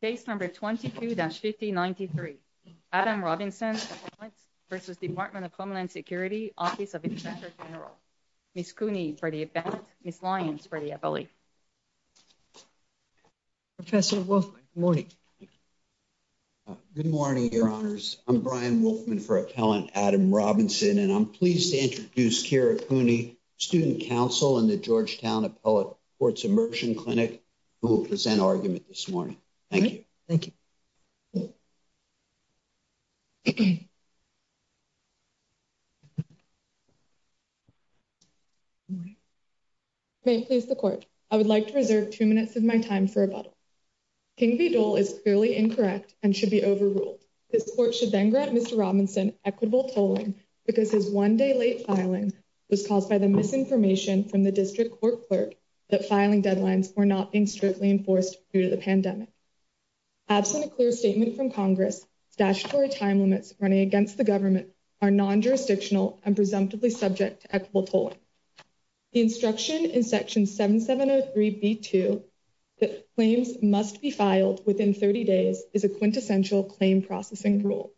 Case number 22-5093 Adam Robinson v. Department of Homeland Security Office of Inspector General Ms. Cooney for the appellant, Ms. Lyons for the appellee. Professor Wolfman, good morning. Good morning, your honors. I'm Brian Wolfman for appellant Adam Robinson, and I'm pleased to introduce Kira Cooney, student counsel in the Georgetown Appellate Courts Immersion Clinic, who will present argument this morning. Thank you. Thank you. May it please the court, I would like to reserve two minutes of my time for rebuttal. King v. Dole is clearly incorrect and should be overruled. This court should then grant Mr. Robinson equitable tolling because his one-day late filing was caused by the misinformation from the district court clerk that filing deadlines were not being strictly enforced due to the pandemic. Absent a clear statement from Congress, statutory time limits running against the government are non-jurisdictional and presumptively subject to equitable tolling. The instruction in section 7703B2 that claims must be filed within 30 days is a quintessential claim processing rule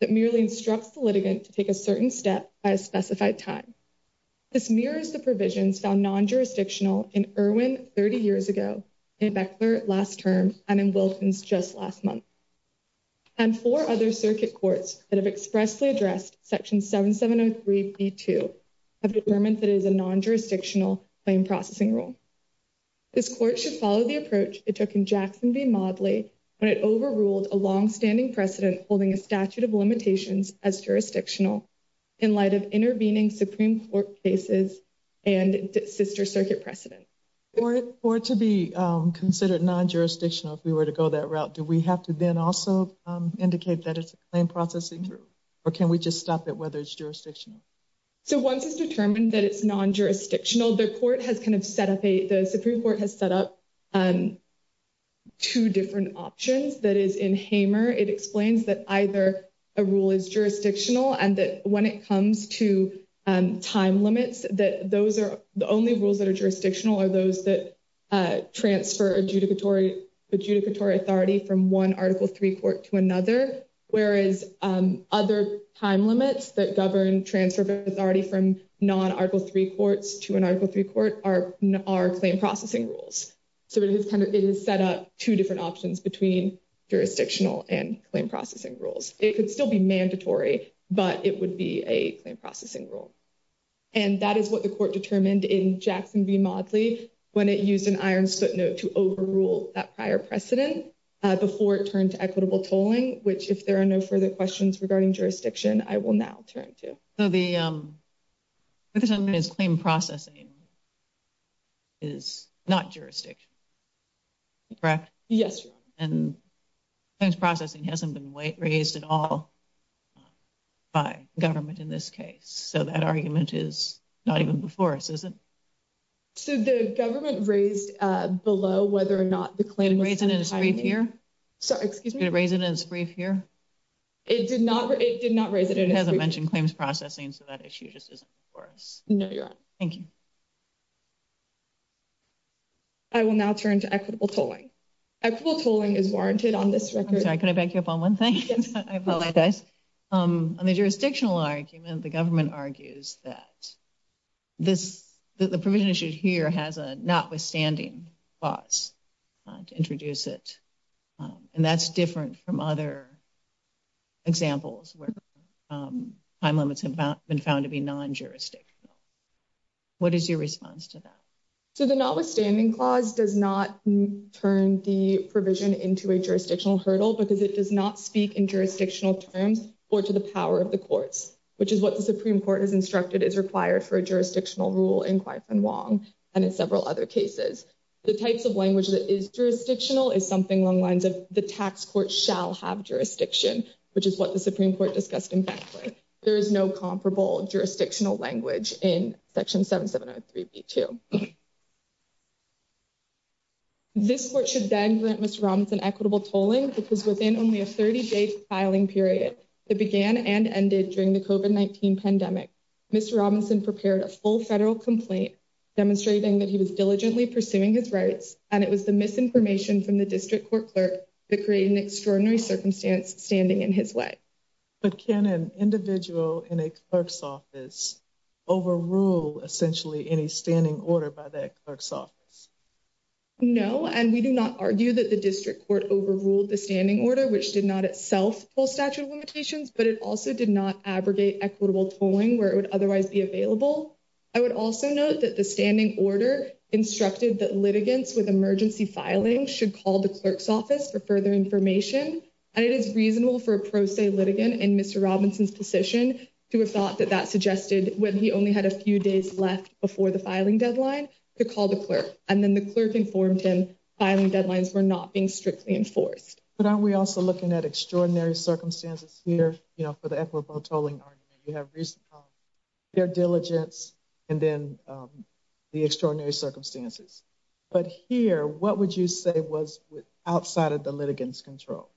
that merely instructs the litigant to take a certain step by a specified time. This mirrors the provisions found non-jurisdictional in Irwin 30 years ago, in Beckler last term, and in Wilkins just last month. And four other circuit courts that have expressly addressed section 7703B2 have determined that it is a non-jurisdictional claim processing rule. This court should follow the approach it took in Jackson v. Modley when it overruled a long-standing precedent holding a statute of limitations as jurisdictional in light of intervening Supreme Court cases and sister circuit precedent. For it to be considered non-jurisdictional if we were to go that route, do we have to then also indicate that it's a claim processing rule? Or can we just stop at whether it's jurisdictional? So once it's determined that it's non-jurisdictional, the Supreme Court has set up two different options. That is, in Hamer, it explains that either a rule is jurisdictional and that when it comes to time limits, the only rules that are jurisdictional are those that transfer adjudicatory authority from one Article III court to another. Whereas other time limits that govern transfer of authority from non-Article III courts to an Article III court are claim processing rules. So it has set up two different options between jurisdictional and claim processing rules. It could still be mandatory, but it would be a claim processing rule. And that is what the court determined in Jackson v. Modley when it used an iron footnote to overrule that prior precedent before it turned to equitable tolling, which if there are no further questions regarding jurisdiction, I will now turn to. So the claim processing is not jurisdictional, correct? Yes, Your Honor. And claims processing hasn't been raised at all by government in this case. So that argument is not even before us, is it? So the government raised below whether or not the claim was raised in its brief here. It did not. It did not raise it. It hasn't mentioned claims processing. So that issue just isn't for us. No, Your Honor. Thank you. I will now turn to equitable tolling. Equitable tolling is warranted on this record. I'm sorry, can I back you up on one thing? Yes. I apologize. On the jurisdictional argument, the government argues that the provision issued here has a notwithstanding clause to introduce it. And that's different from other examples where time limits have been found to be non-jurisdictional. What is your response to that? So the notwithstanding clause does not turn the provision into a jurisdictional hurdle because it does not speak in jurisdictional terms or to the power of the courts, which is what the Supreme Court has instructed is required for a jurisdictional rule in Quy Phan Wong and in several other cases. The types of language that is jurisdictional is something along the lines of the tax court shall have jurisdiction, which is what the Supreme Court discussed. In fact, there is no comparable jurisdictional language in Section 7703B2. This court should then grant Mr. Robinson equitable tolling because within only a 30-day filing period that began and ended during the COVID-19 pandemic, Mr. Robinson prepared a full federal complaint demonstrating that he was diligently pursuing his rights and it was the misinformation from the district court clerk that created an extraordinary circumstance standing in his way. But can an individual in a clerk's office overrule essentially any standing order by that clerk's office? No, and we do not argue that the district court overruled the standing order, which did not itself pull statute of limitations, but it also did not abrogate equitable tolling where it would otherwise be available. I would also note that the standing order instructed that litigants with emergency filing should call the clerk's office for further information, and it is reasonable for a pro se litigant in Mr. Robinson's position to have thought that that suggested when he only had a few days left before the filing deadline to call the clerk, and then the clerk informed him filing deadlines were not being strictly enforced. But aren't we also looking at extraordinary circumstances here, you know, for the equitable tolling argument, you have their diligence, and then the extraordinary circumstances. But here, what would you say was outside of the litigants control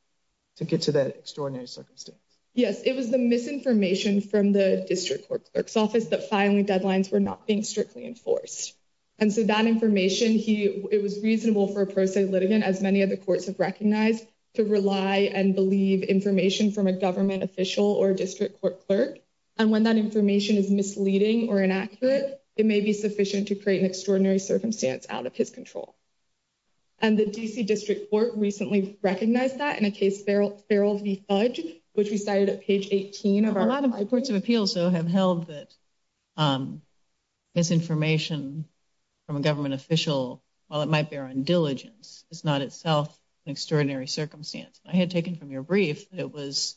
to get to that extraordinary circumstance? Yes, it was the misinformation from the district court clerk's office that filing deadlines were not being strictly enforced. And so that information, it was reasonable for a pro se litigant, as many of the courts have recognized, to rely and believe information from a government official or district court clerk. And when that information is misleading or inaccurate, it may be sufficient to create an extraordinary circumstance out of his control. And the district court recently recognized that in a case, which we started at page 18 of a lot of reports of appeal. They also have held that this information from a government official, while it might bear on diligence, it's not itself an extraordinary circumstance. I had taken from your brief, it was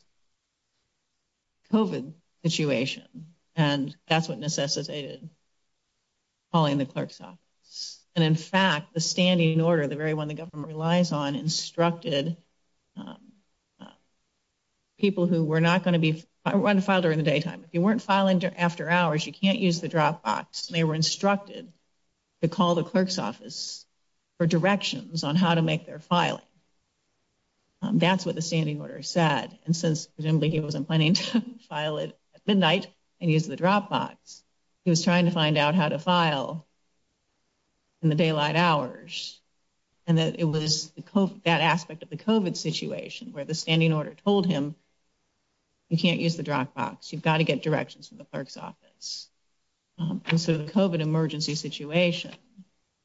COVID situation. And that's what necessitated calling the clerk's office. And in fact, the standing order, the very one the government relies on, instructed people who were not going to be filed during the daytime. If you weren't filing after hours, you can't use the drop box. They were instructed to call the clerk's office for directions on how to make their filing. That's what the standing order said. And since presumably he wasn't planning to file it at midnight and use the drop box, he was trying to find out how to file in the daylight hours. And that it was that aspect of the COVID situation where the standing order told him. You can't use the drop box, you've got to get directions from the clerk's office. And so the COVID emergency situation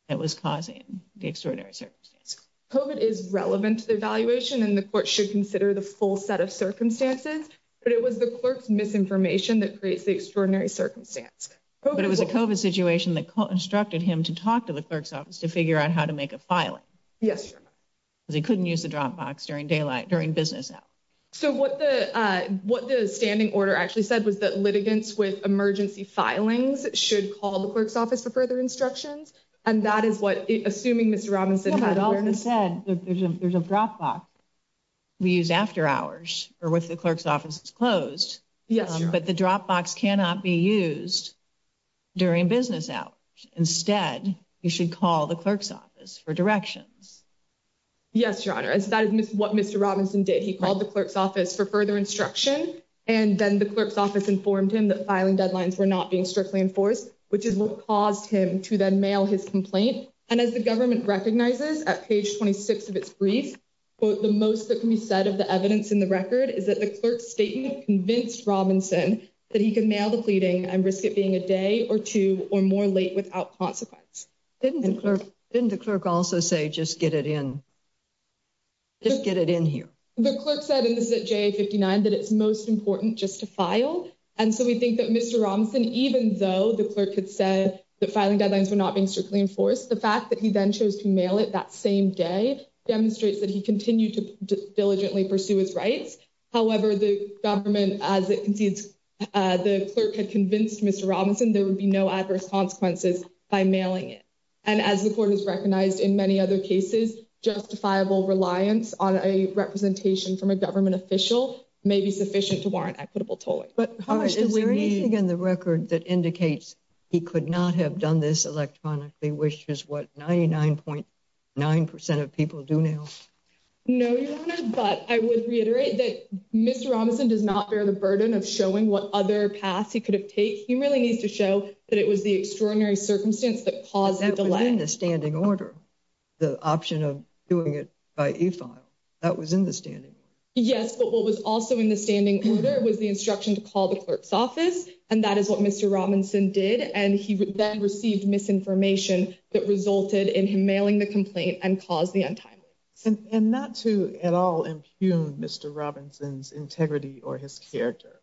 that was causing the extraordinary circumstance. COVID is relevant to the evaluation and the court should consider the full set of circumstances, but it was the clerk's misinformation that creates the extraordinary circumstance. But it was a COVID situation that instructed him to talk to the clerk's office to figure out how to make a filing. Yes. They couldn't use the drop box during daylight during business. So what the what the standing order actually said was that litigants with emergency filings should call the clerk's office for further instructions. And that is what assuming Mr. Robinson said, there's a drop box. We use after hours or with the clerk's office is closed, but the drop box cannot be used during business hours. Instead, you should call the clerk's office for directions. Yes, your honor. And so that is what Mr. Robinson did. He called the clerk's office for further instruction. And then the clerk's office informed him that filing deadlines were not being strictly enforced, which is what caused him to then mail his complaint. And as the government recognizes at page 26 of its brief, quote, the most that can be said of the evidence in the record is that the clerk's statement convinced Robinson that he can mail the pleading and risk it being a day or two or more late without consequence. Didn't the clerk didn't the clerk also say, just get it in? Just get it in here. The clerk said, and this is a 59 that it's most important just to file. And so we think that Mr. Robinson, even though the clerk had said that filing deadlines were not being strictly enforced, the fact that he then chose to mail it that same day demonstrates that he continued to diligently pursue his rights. However, the government, as it concedes, the clerk had convinced Mr. Robinson there would be no adverse consequences by mailing it. And as the court has recognized in many other cases, justifiable reliance on a representation from a government official may be sufficient to warrant equitable tolling. But is there anything in the record that indicates he could not have done this electronically, which is what 99.9% of people do now? No, but I would reiterate that Mr. Robinson does not bear the burden of showing what other paths he could have take. He really needs to show that it was the extraordinary circumstance that caused the delay in the standing order. The option of doing it by a file that was in the standing. Yes, but what was also in the standing order was the instruction to call the clerk's office. And that is what Mr. Robinson did. And he then received misinformation that resulted in him mailing the complaint and cause the untimely. And not to at all impugn Mr. Robinson's integrity or his character.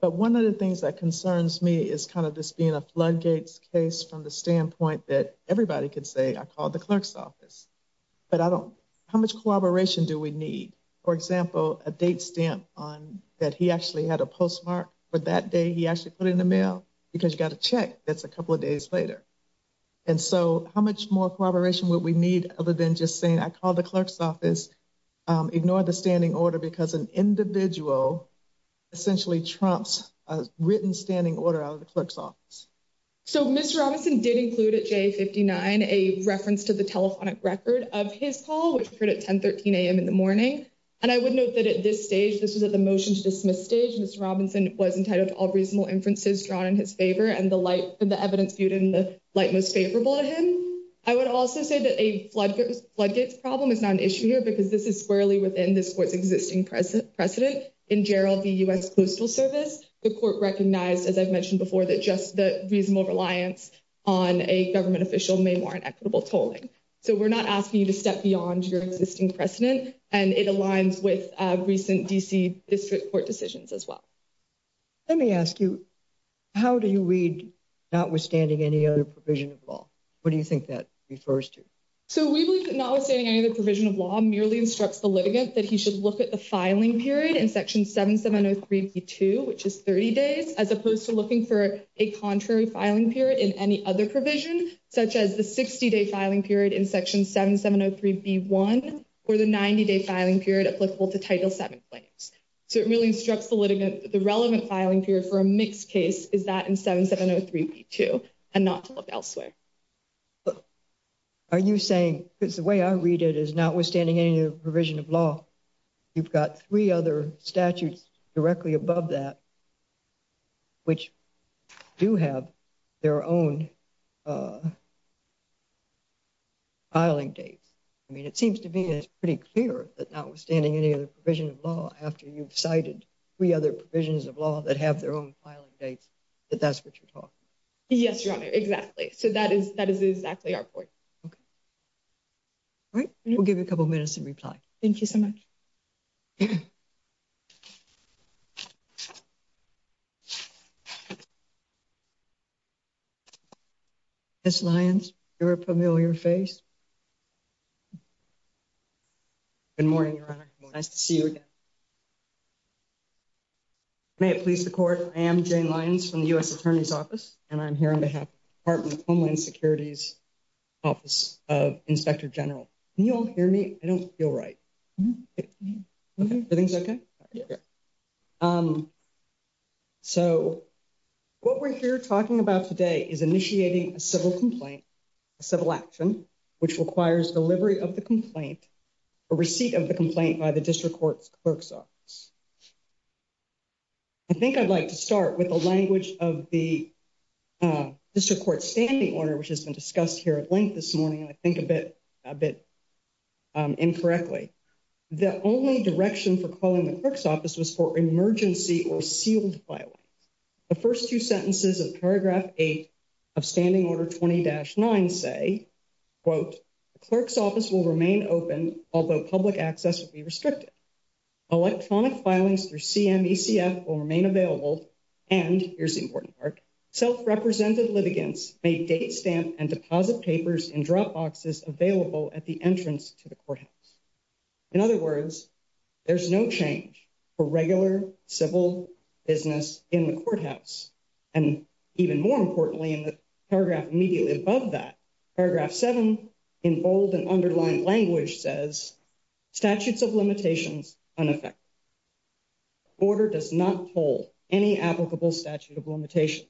But one of the things that concerns me is kind of this being a floodgates case from the standpoint that everybody could say I called the clerk's office. But I don't how much collaboration do we need, for example, a date stamp on that? He actually had a postmark for that day. He actually put in the mail because you got to check. That's a couple of days later. And so how much more collaboration what we need other than just saying I call the clerk's office ignore the standing order because an individual. Essentially, Trump's written standing order out of the clerk's office. So, Mr. Robinson did include at J59, a reference to the telephonic record of his call, which occurred at 1013 a.m. in the morning. And I would note that at this stage, this is at the motion to dismiss stage. Mr. Robinson was entitled to all reasonable inferences drawn in his favor and the light of the evidence viewed in the light most favorable to him. I would also say that a floodgate problem is not an issue here because this is squarely within this court's existing precedent precedent in Gerald, the U.S. Coastal Service. The court recognized, as I've mentioned before, that just the reasonable reliance on a government official may warrant equitable tolling. So we're not asking you to step beyond your existing precedent. And it aligns with recent D.C. District Court decisions as well. Let me ask you, how do you read notwithstanding any other provision of law? What do you think that refers to? So we believe that notwithstanding any other provision of law merely instructs the litigant that he should look at the filing period in Section 7703B2, which is 30 days, as opposed to looking for a contrary filing period in any other provision, such as the 60 day filing period in Section 7703B1 or the 90 day filing period applicable to Title 7 claims. So it really instructs the litigant the relevant filing period for a mixed case is that in 7703B2 and not elsewhere. Are you saying, because the way I read it is notwithstanding any other provision of law, you've got three other statutes directly above that, which do have their own filing dates. I mean, it seems to be pretty clear that notwithstanding any other provision of law, after you've cited three other provisions of law that have their own filing dates, that that's what you're talking about. Yes, Your Honor, exactly. So that is that is exactly our point. Okay. All right. We'll give you a couple minutes to reply. Thank you so much. Ms. Lyons, you're a familiar face. Good morning, Your Honor. Nice to see you again. May it please the Court. I am Jane Lyons from the U.S. Attorney's Office, and I'm here on behalf of the Department of Homeland Security's Office of Inspector General. Can you all hear me? I don't feel right. Everything's okay? Yeah. So, what we're here talking about today is initiating a civil complaint, a civil action, which requires delivery of the complaint, a receipt of the complaint by the district court's clerk's office. I think I'd like to start with the language of the district court standing order, which has been discussed here at length this morning, and I think a bit, a bit incorrectly. The only direction for calling the clerk's office was for emergency or sealed filings. The first two sentences of paragraph eight of standing order 20-9 say, quote, the clerk's office will remain open, although public access will be restricted. Electronic filings through CMECF will remain available, and here's the important part, self-represented litigants may date stamp and deposit papers in drop boxes available at the entrance to the courthouse. In other words, there's no change for regular civil business in the courthouse. And even more importantly, in the paragraph immediately above that, paragraph seven in bold and underlined language says statutes of limitations unaffected. Order does not hold any applicable statute of limitations.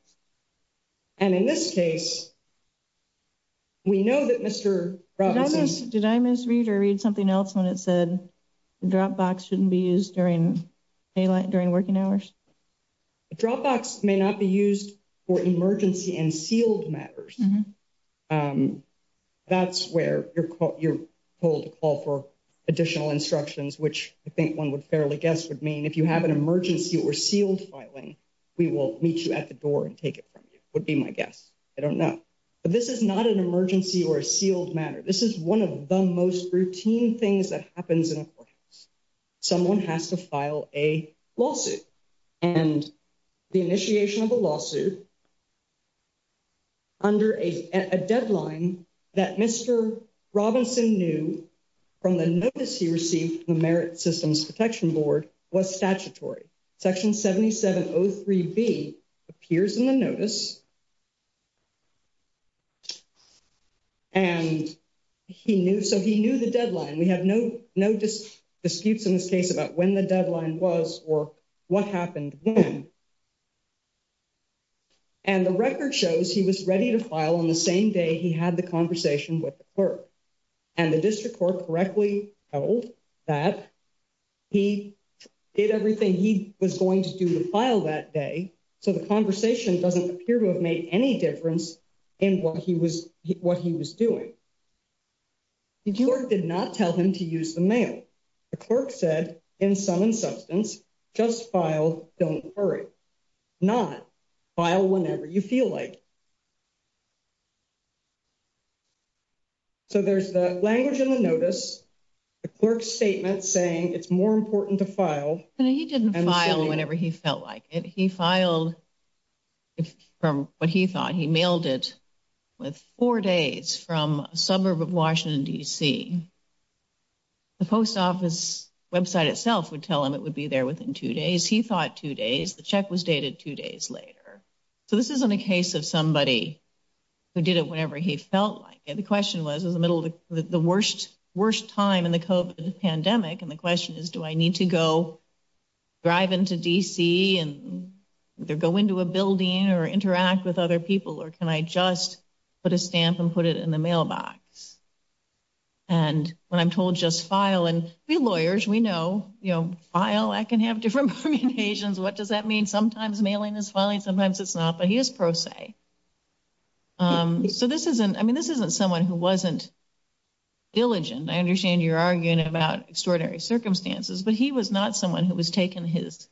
And in this case, we know that Mr. Did I misread or read something else when it said the drop box shouldn't be used during daylight during working hours? Dropbox may not be used for emergency and sealed matters. That's where you're called to call for additional instructions, which I think one would fairly guess would mean if you have an emergency or sealed filing, we will meet you at the door and take it from you would be my guess. I don't know, but this is not an emergency or a sealed matter. This is one of the most routine things that happens in a courthouse. Someone has to file a lawsuit and the initiation of a lawsuit. Under a deadline that Mr. Robinson knew. From the notice, he received the merit systems protection board was statutory section. Seventy seven. Oh, three B appears in the notice. And he knew, so he knew the deadline. We have no, no disputes in this case about when the deadline was or what happened. And the record shows he was ready to file on the same day. He had the conversation with. And the district court correctly that. He did everything he was going to do to file that day. So, the conversation doesn't appear to have made any difference in what he was what he was doing. Did you did not tell him to use the mail? The clerk said in some substance, just file. Don't worry. Not file whenever you feel like. So, there's the language in the notice. The clerk statement saying it's more important to file and he didn't file whenever he felt like it. He filed. From what he thought he mailed it with four days from a suburb of Washington, D. C. The post office website itself would tell him it would be there within two days. He thought two days. The check was dated two days later. So, this isn't a case of somebody who did it whenever he felt like it. The question was in the middle of the worst, worst time in the pandemic. And the question is, do I need to go drive into D. C. and go into a building or interact with other people? Or can I just put a stamp and put it in the mailbox? And when I'm told just file and be lawyers, we know, you know, file, I can have different permutations. What does that mean? Sometimes mailing is filing. Sometimes it's not, but he is pro se. So, this isn't I mean, this isn't someone who wasn't diligent. I understand you're arguing about extraordinary circumstances, but he was not someone who was taking his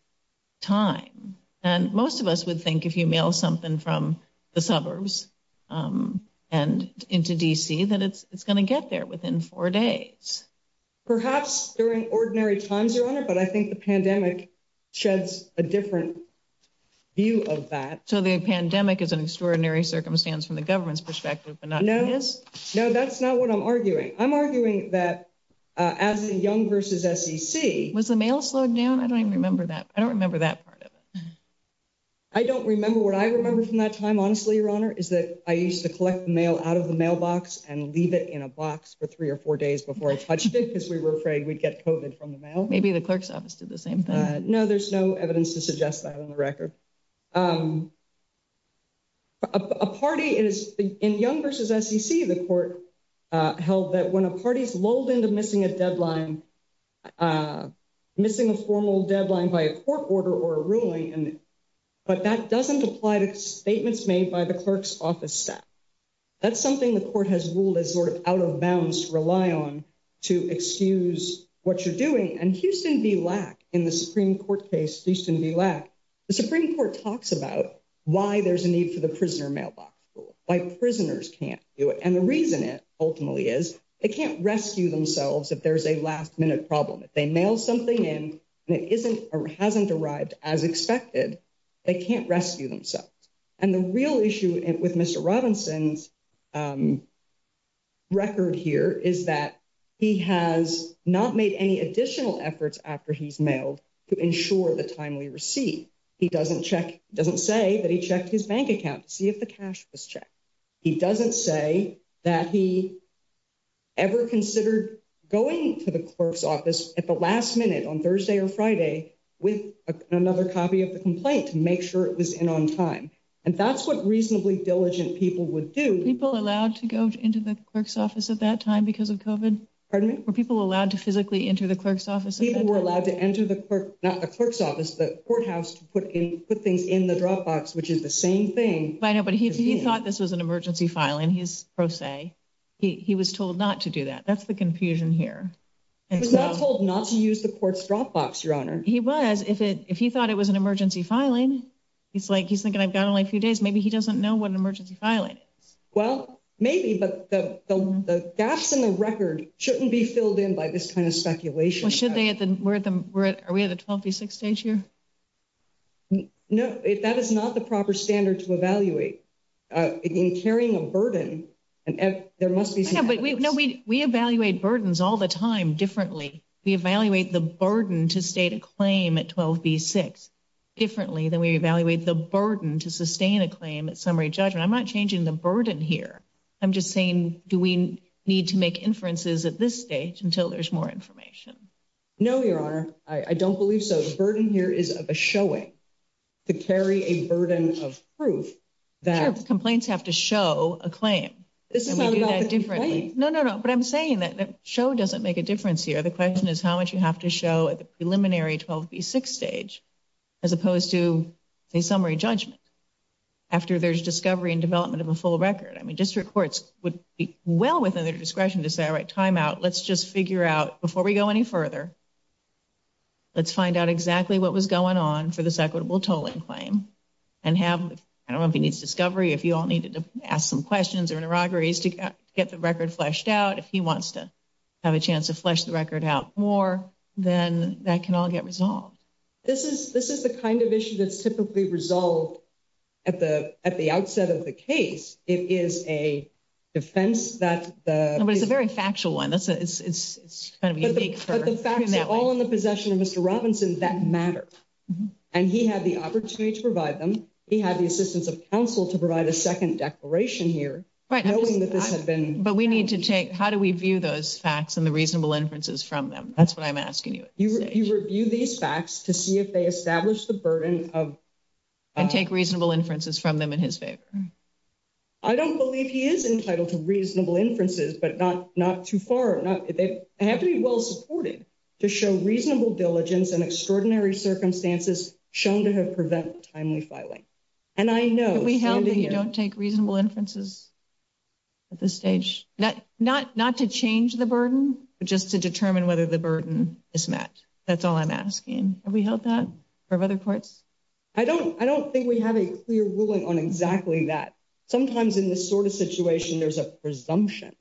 time. And most of us would think if you mail something from the suburbs and into D. C. that it's going to get there within four days. Perhaps during ordinary times, your honor, but I think the pandemic sheds a different view of that. So, the pandemic is an extraordinary circumstance from the government's perspective. No, that's not what I'm arguing. I'm arguing that as a young versus was the mail slowed down. I don't even remember that. I don't remember that part of it. I don't remember what I remember from that time. Honestly, your honor is that I used to collect mail out of the mailbox and leave it in a box for three or four days before I touched it because we were afraid we'd get coded from the mail. Maybe the clerk's office did the same thing. No, there's no evidence to suggest that on the record. A party is in young versus the court held that when a party is lulled into missing a deadline, missing a formal deadline by a court order or a ruling. But that doesn't apply to statements made by the clerk's office staff. That's something the court has ruled as sort of out of bounds rely on to excuse what you're doing and Houston be lack in the Supreme Court case. Houston be lack the Supreme Court talks about why there's a need for the prisoner mailbox by prisoners can't do it. And the reason it ultimately is it can't rescue themselves. If there's a last minute problem, if they mail something in and it isn't or hasn't arrived as expected, they can't rescue themselves. And the real issue with Mr. Robinson's record here is that he has not made any additional efforts after he's mailed to ensure the timely receipt. He doesn't check doesn't say that he checked his bank account to see if the cash was checked. He doesn't say that he ever considered going to the clerk's office at the last minute on Thursday or Friday with another copy of the complaint to make sure it was in on time. And that's what reasonably diligent people would do. People allowed to go into the clerk's office at that time because of coven pardon me where people allowed to physically enter the clerk's office. People were allowed to enter the clerk, not the clerk's office, the courthouse to put in, put things in the dropbox, which is the same thing. I know, but he thought this was an emergency filing. He's like, he's thinking I've got only a few days. Maybe he doesn't know what an emergency filing is. Well, maybe, but the gaps in the record shouldn't be filled in by this kind of speculation. Should they at the we're at the are we at the twenty six stage here? No, if that is not the proper standard to evaluate in carrying a burden and there must be no, we, we evaluate burdens all the time. Differently. We evaluate the burden to state a claim at twelve B six differently than we evaluate the burden to sustain a claim at summary judgment. I'm not changing the burden here. I'm just saying, do we need to make inferences at this stage until there's more information? No, your honor. I don't believe so. The burden here is a showing to carry a burden of proof that complaints have to show a claim. This is different. No, no, no. But I'm saying that show doesn't make a difference here. The question is how much you have to show at the preliminary twelve B six stage as opposed to a summary judgment. After there's discovery and development of a full record, I mean, district courts would be well within their discretion to say, all right, timeout. Let's just figure out before we go any further. Let's find out exactly what was going on for this equitable tolling claim and have. I don't know if he needs discovery. If you all needed to ask some questions or interrogations to get the record fleshed out. If he wants to have a chance to flesh the record out more than that can all get resolved. This is this is the kind of issue that's typically resolved at the at the outset of the case. It is a defense that is a very factual one. That's it's it's kind of the facts all in the possession of Mr. Robinson that matter. And he had the opportunity to provide them. He had the assistance of counsel to provide a second declaration here, right? But we need to take how do we view those facts and the reasonable inferences from them? That's what I'm asking you. You review these facts to see if they establish the burden of and take reasonable inferences from them in his favor. I don't believe he is entitled to reasonable inferences, but not not too far. I have to be well supported to show reasonable diligence and extraordinary circumstances shown to have prevent timely filing. And I know we don't take reasonable inferences at this stage, not not not to change the burden, but just to determine whether the burden is met. That's all I'm asking. Have we held that for other courts? I don't I don't think we have a clear ruling on exactly that. Sometimes in this sort of situation, there's a presumption,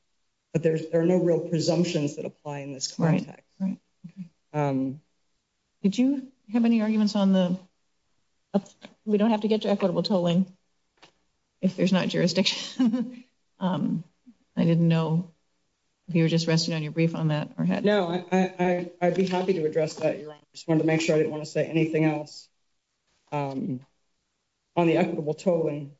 but there's there are no real presumptions that apply in this context. Right. Did you have any arguments on the we don't have to get to equitable tolling if there's not jurisdiction? I didn't know if you were just resting on your brief on that or had no, I'd be happy to address that. I just want to make sure I didn't want to say anything else on the equitable tolling.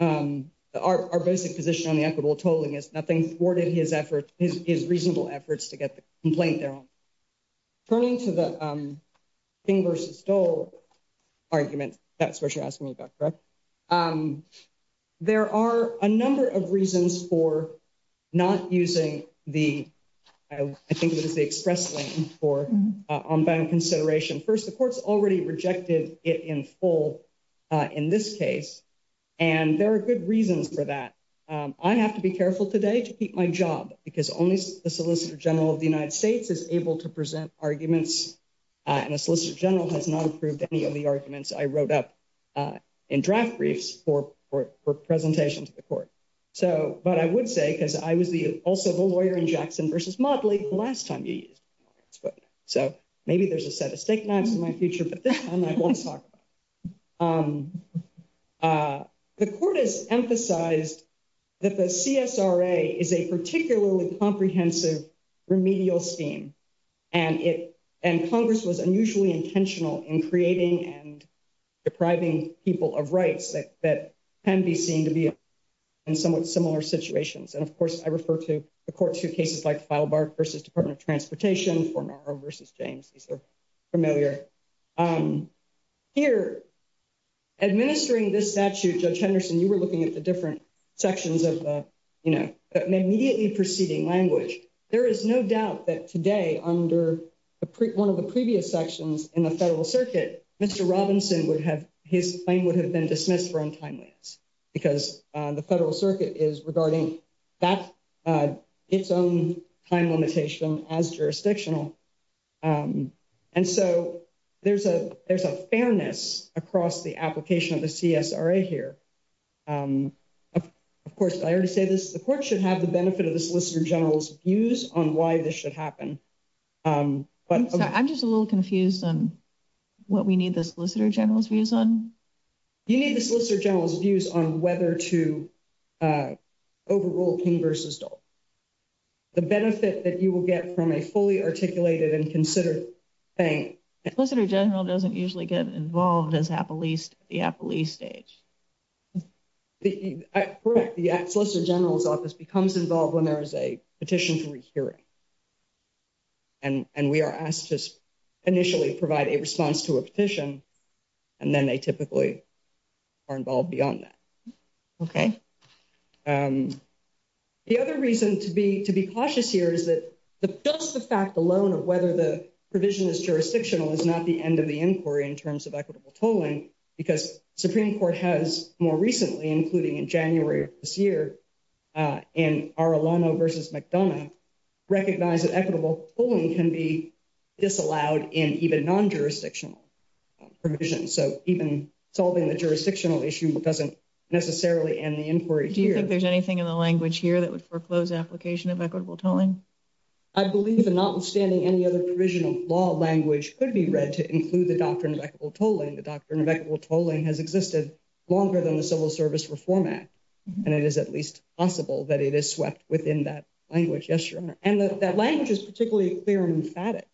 Our basic position on the equitable tolling is nothing forwarded. His effort is reasonable efforts to get the complaint there. Turning to the King versus Dole argument, that's what you're asking me about, correct? There are a number of reasons for not using the I think it is the express lane for on bank consideration. First, the court's already rejected it in full in this case, and there are good reasons for that. I have to be careful today to keep my job because only the solicitor general of the United States is able to present arguments. And a solicitor general has not approved any of the arguments I wrote up in draft briefs for presentation to the court. So, but I would say, because I was also the lawyer in Jackson versus Motley last time. So, maybe there's a set of steak knives in my future, but I want to talk about the court has emphasized that the is a particularly comprehensive remedial scheme. And it and Congress was unusually intentional in creating and depriving people of rights that that can be seen to be in somewhat similar situations. And, of course, I refer to the court to cases like file bar versus Department of Transportation for versus James. These are familiar here. Administering this statute, Judge Henderson, you were looking at the different sections of the immediately proceeding language. There is no doubt that today under one of the previous sections in the federal circuit, Mr. James would have been dismissed for untimeliness because the federal circuit is regarding that its own time limitation as jurisdictional. And so there's a there's a fairness across the application of the here. Of course, I already say this, the court should have the benefit of the solicitor general's views on why this should happen. But I'm just a little confused on what we need the solicitor general's views on. You need the solicitor general's views on whether to overrule King versus. The benefit that you will get from a fully articulated and consider. General doesn't usually get involved as at least the police stage. The solicitor general's office becomes involved when there is a petition for a hearing. And we are asked to initially provide a response to a petition, and then they typically are involved beyond that. OK, the other reason to be to be cautious here is that the just the fact alone of whether the provision is jurisdictional is not the end of the inquiry in terms of equitable tolling. Because Supreme Court has more recently, including in January this year. In our versus McDonough recognize that equitable polling can be disallowed in even non jurisdictional provision. So, even solving the jurisdictional issue doesn't necessarily in the inquiry. Do you think there's anything in the language here that would foreclose application of equitable tolling? I believe that notwithstanding any other provision of law language could be read to include the doctrine of equitable tolling. The doctrine of equitable tolling has existed longer than the civil service reform act. And it is at least possible that it is swept within that language. Yes, your honor. And that language is particularly clear and emphatic.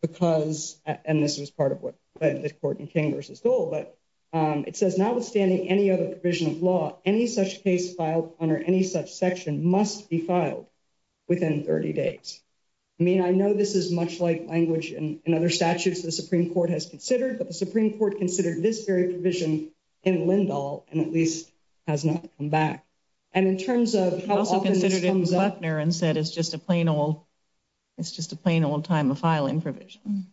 Because, and this was part of what the court in King versus goal, but it says, notwithstanding any other provision of law, any such case filed under any such section must be filed within 30 days. I mean, I know this is much like language and other statutes. The Supreme Court has considered, but the Supreme Court considered this very provision in Lindahl and at least has not come back. And in terms of how often comes up there and said, it's just a plain old. It's just a plain old time of filing provision.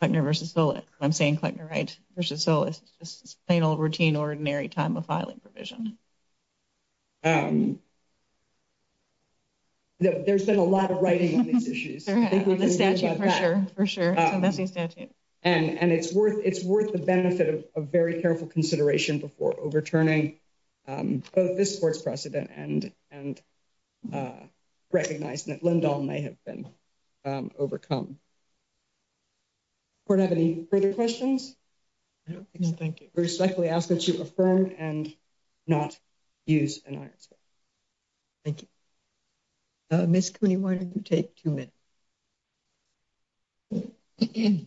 I never saw it. I'm saying right. So, it's just plain old routine ordinary time of filing provision. There's been a lot of writing on these issues for sure. And it's worth it's worth the benefit of a very careful consideration before overturning this court's precedent and and. Recognize that Lindahl may have been overcome. We have any further questions. No, thank you respectfully ask that you affirm and not. Use an answer. Thank you. Miss, can you why don't you take 2 minutes?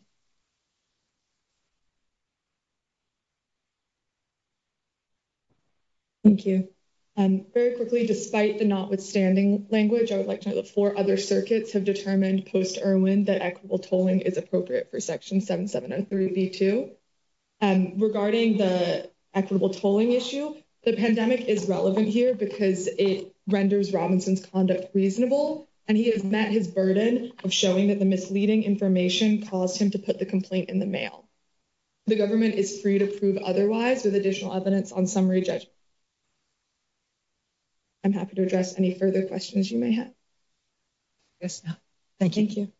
Thank you very quickly. Despite the notwithstanding language, I would like to have the 4 other circuits have determined post or when the equitable tolling is appropriate for section 7703 V2. Regarding the equitable tolling issue, the pandemic is relevant here because it renders Robinson's conduct reasonable and he has met his burden of showing that the misleading information. Caused him to put the complaint in the mail. The government is free to prove otherwise with additional evidence on summary judge. I'm happy to address any further questions you may have. Yes, thank you.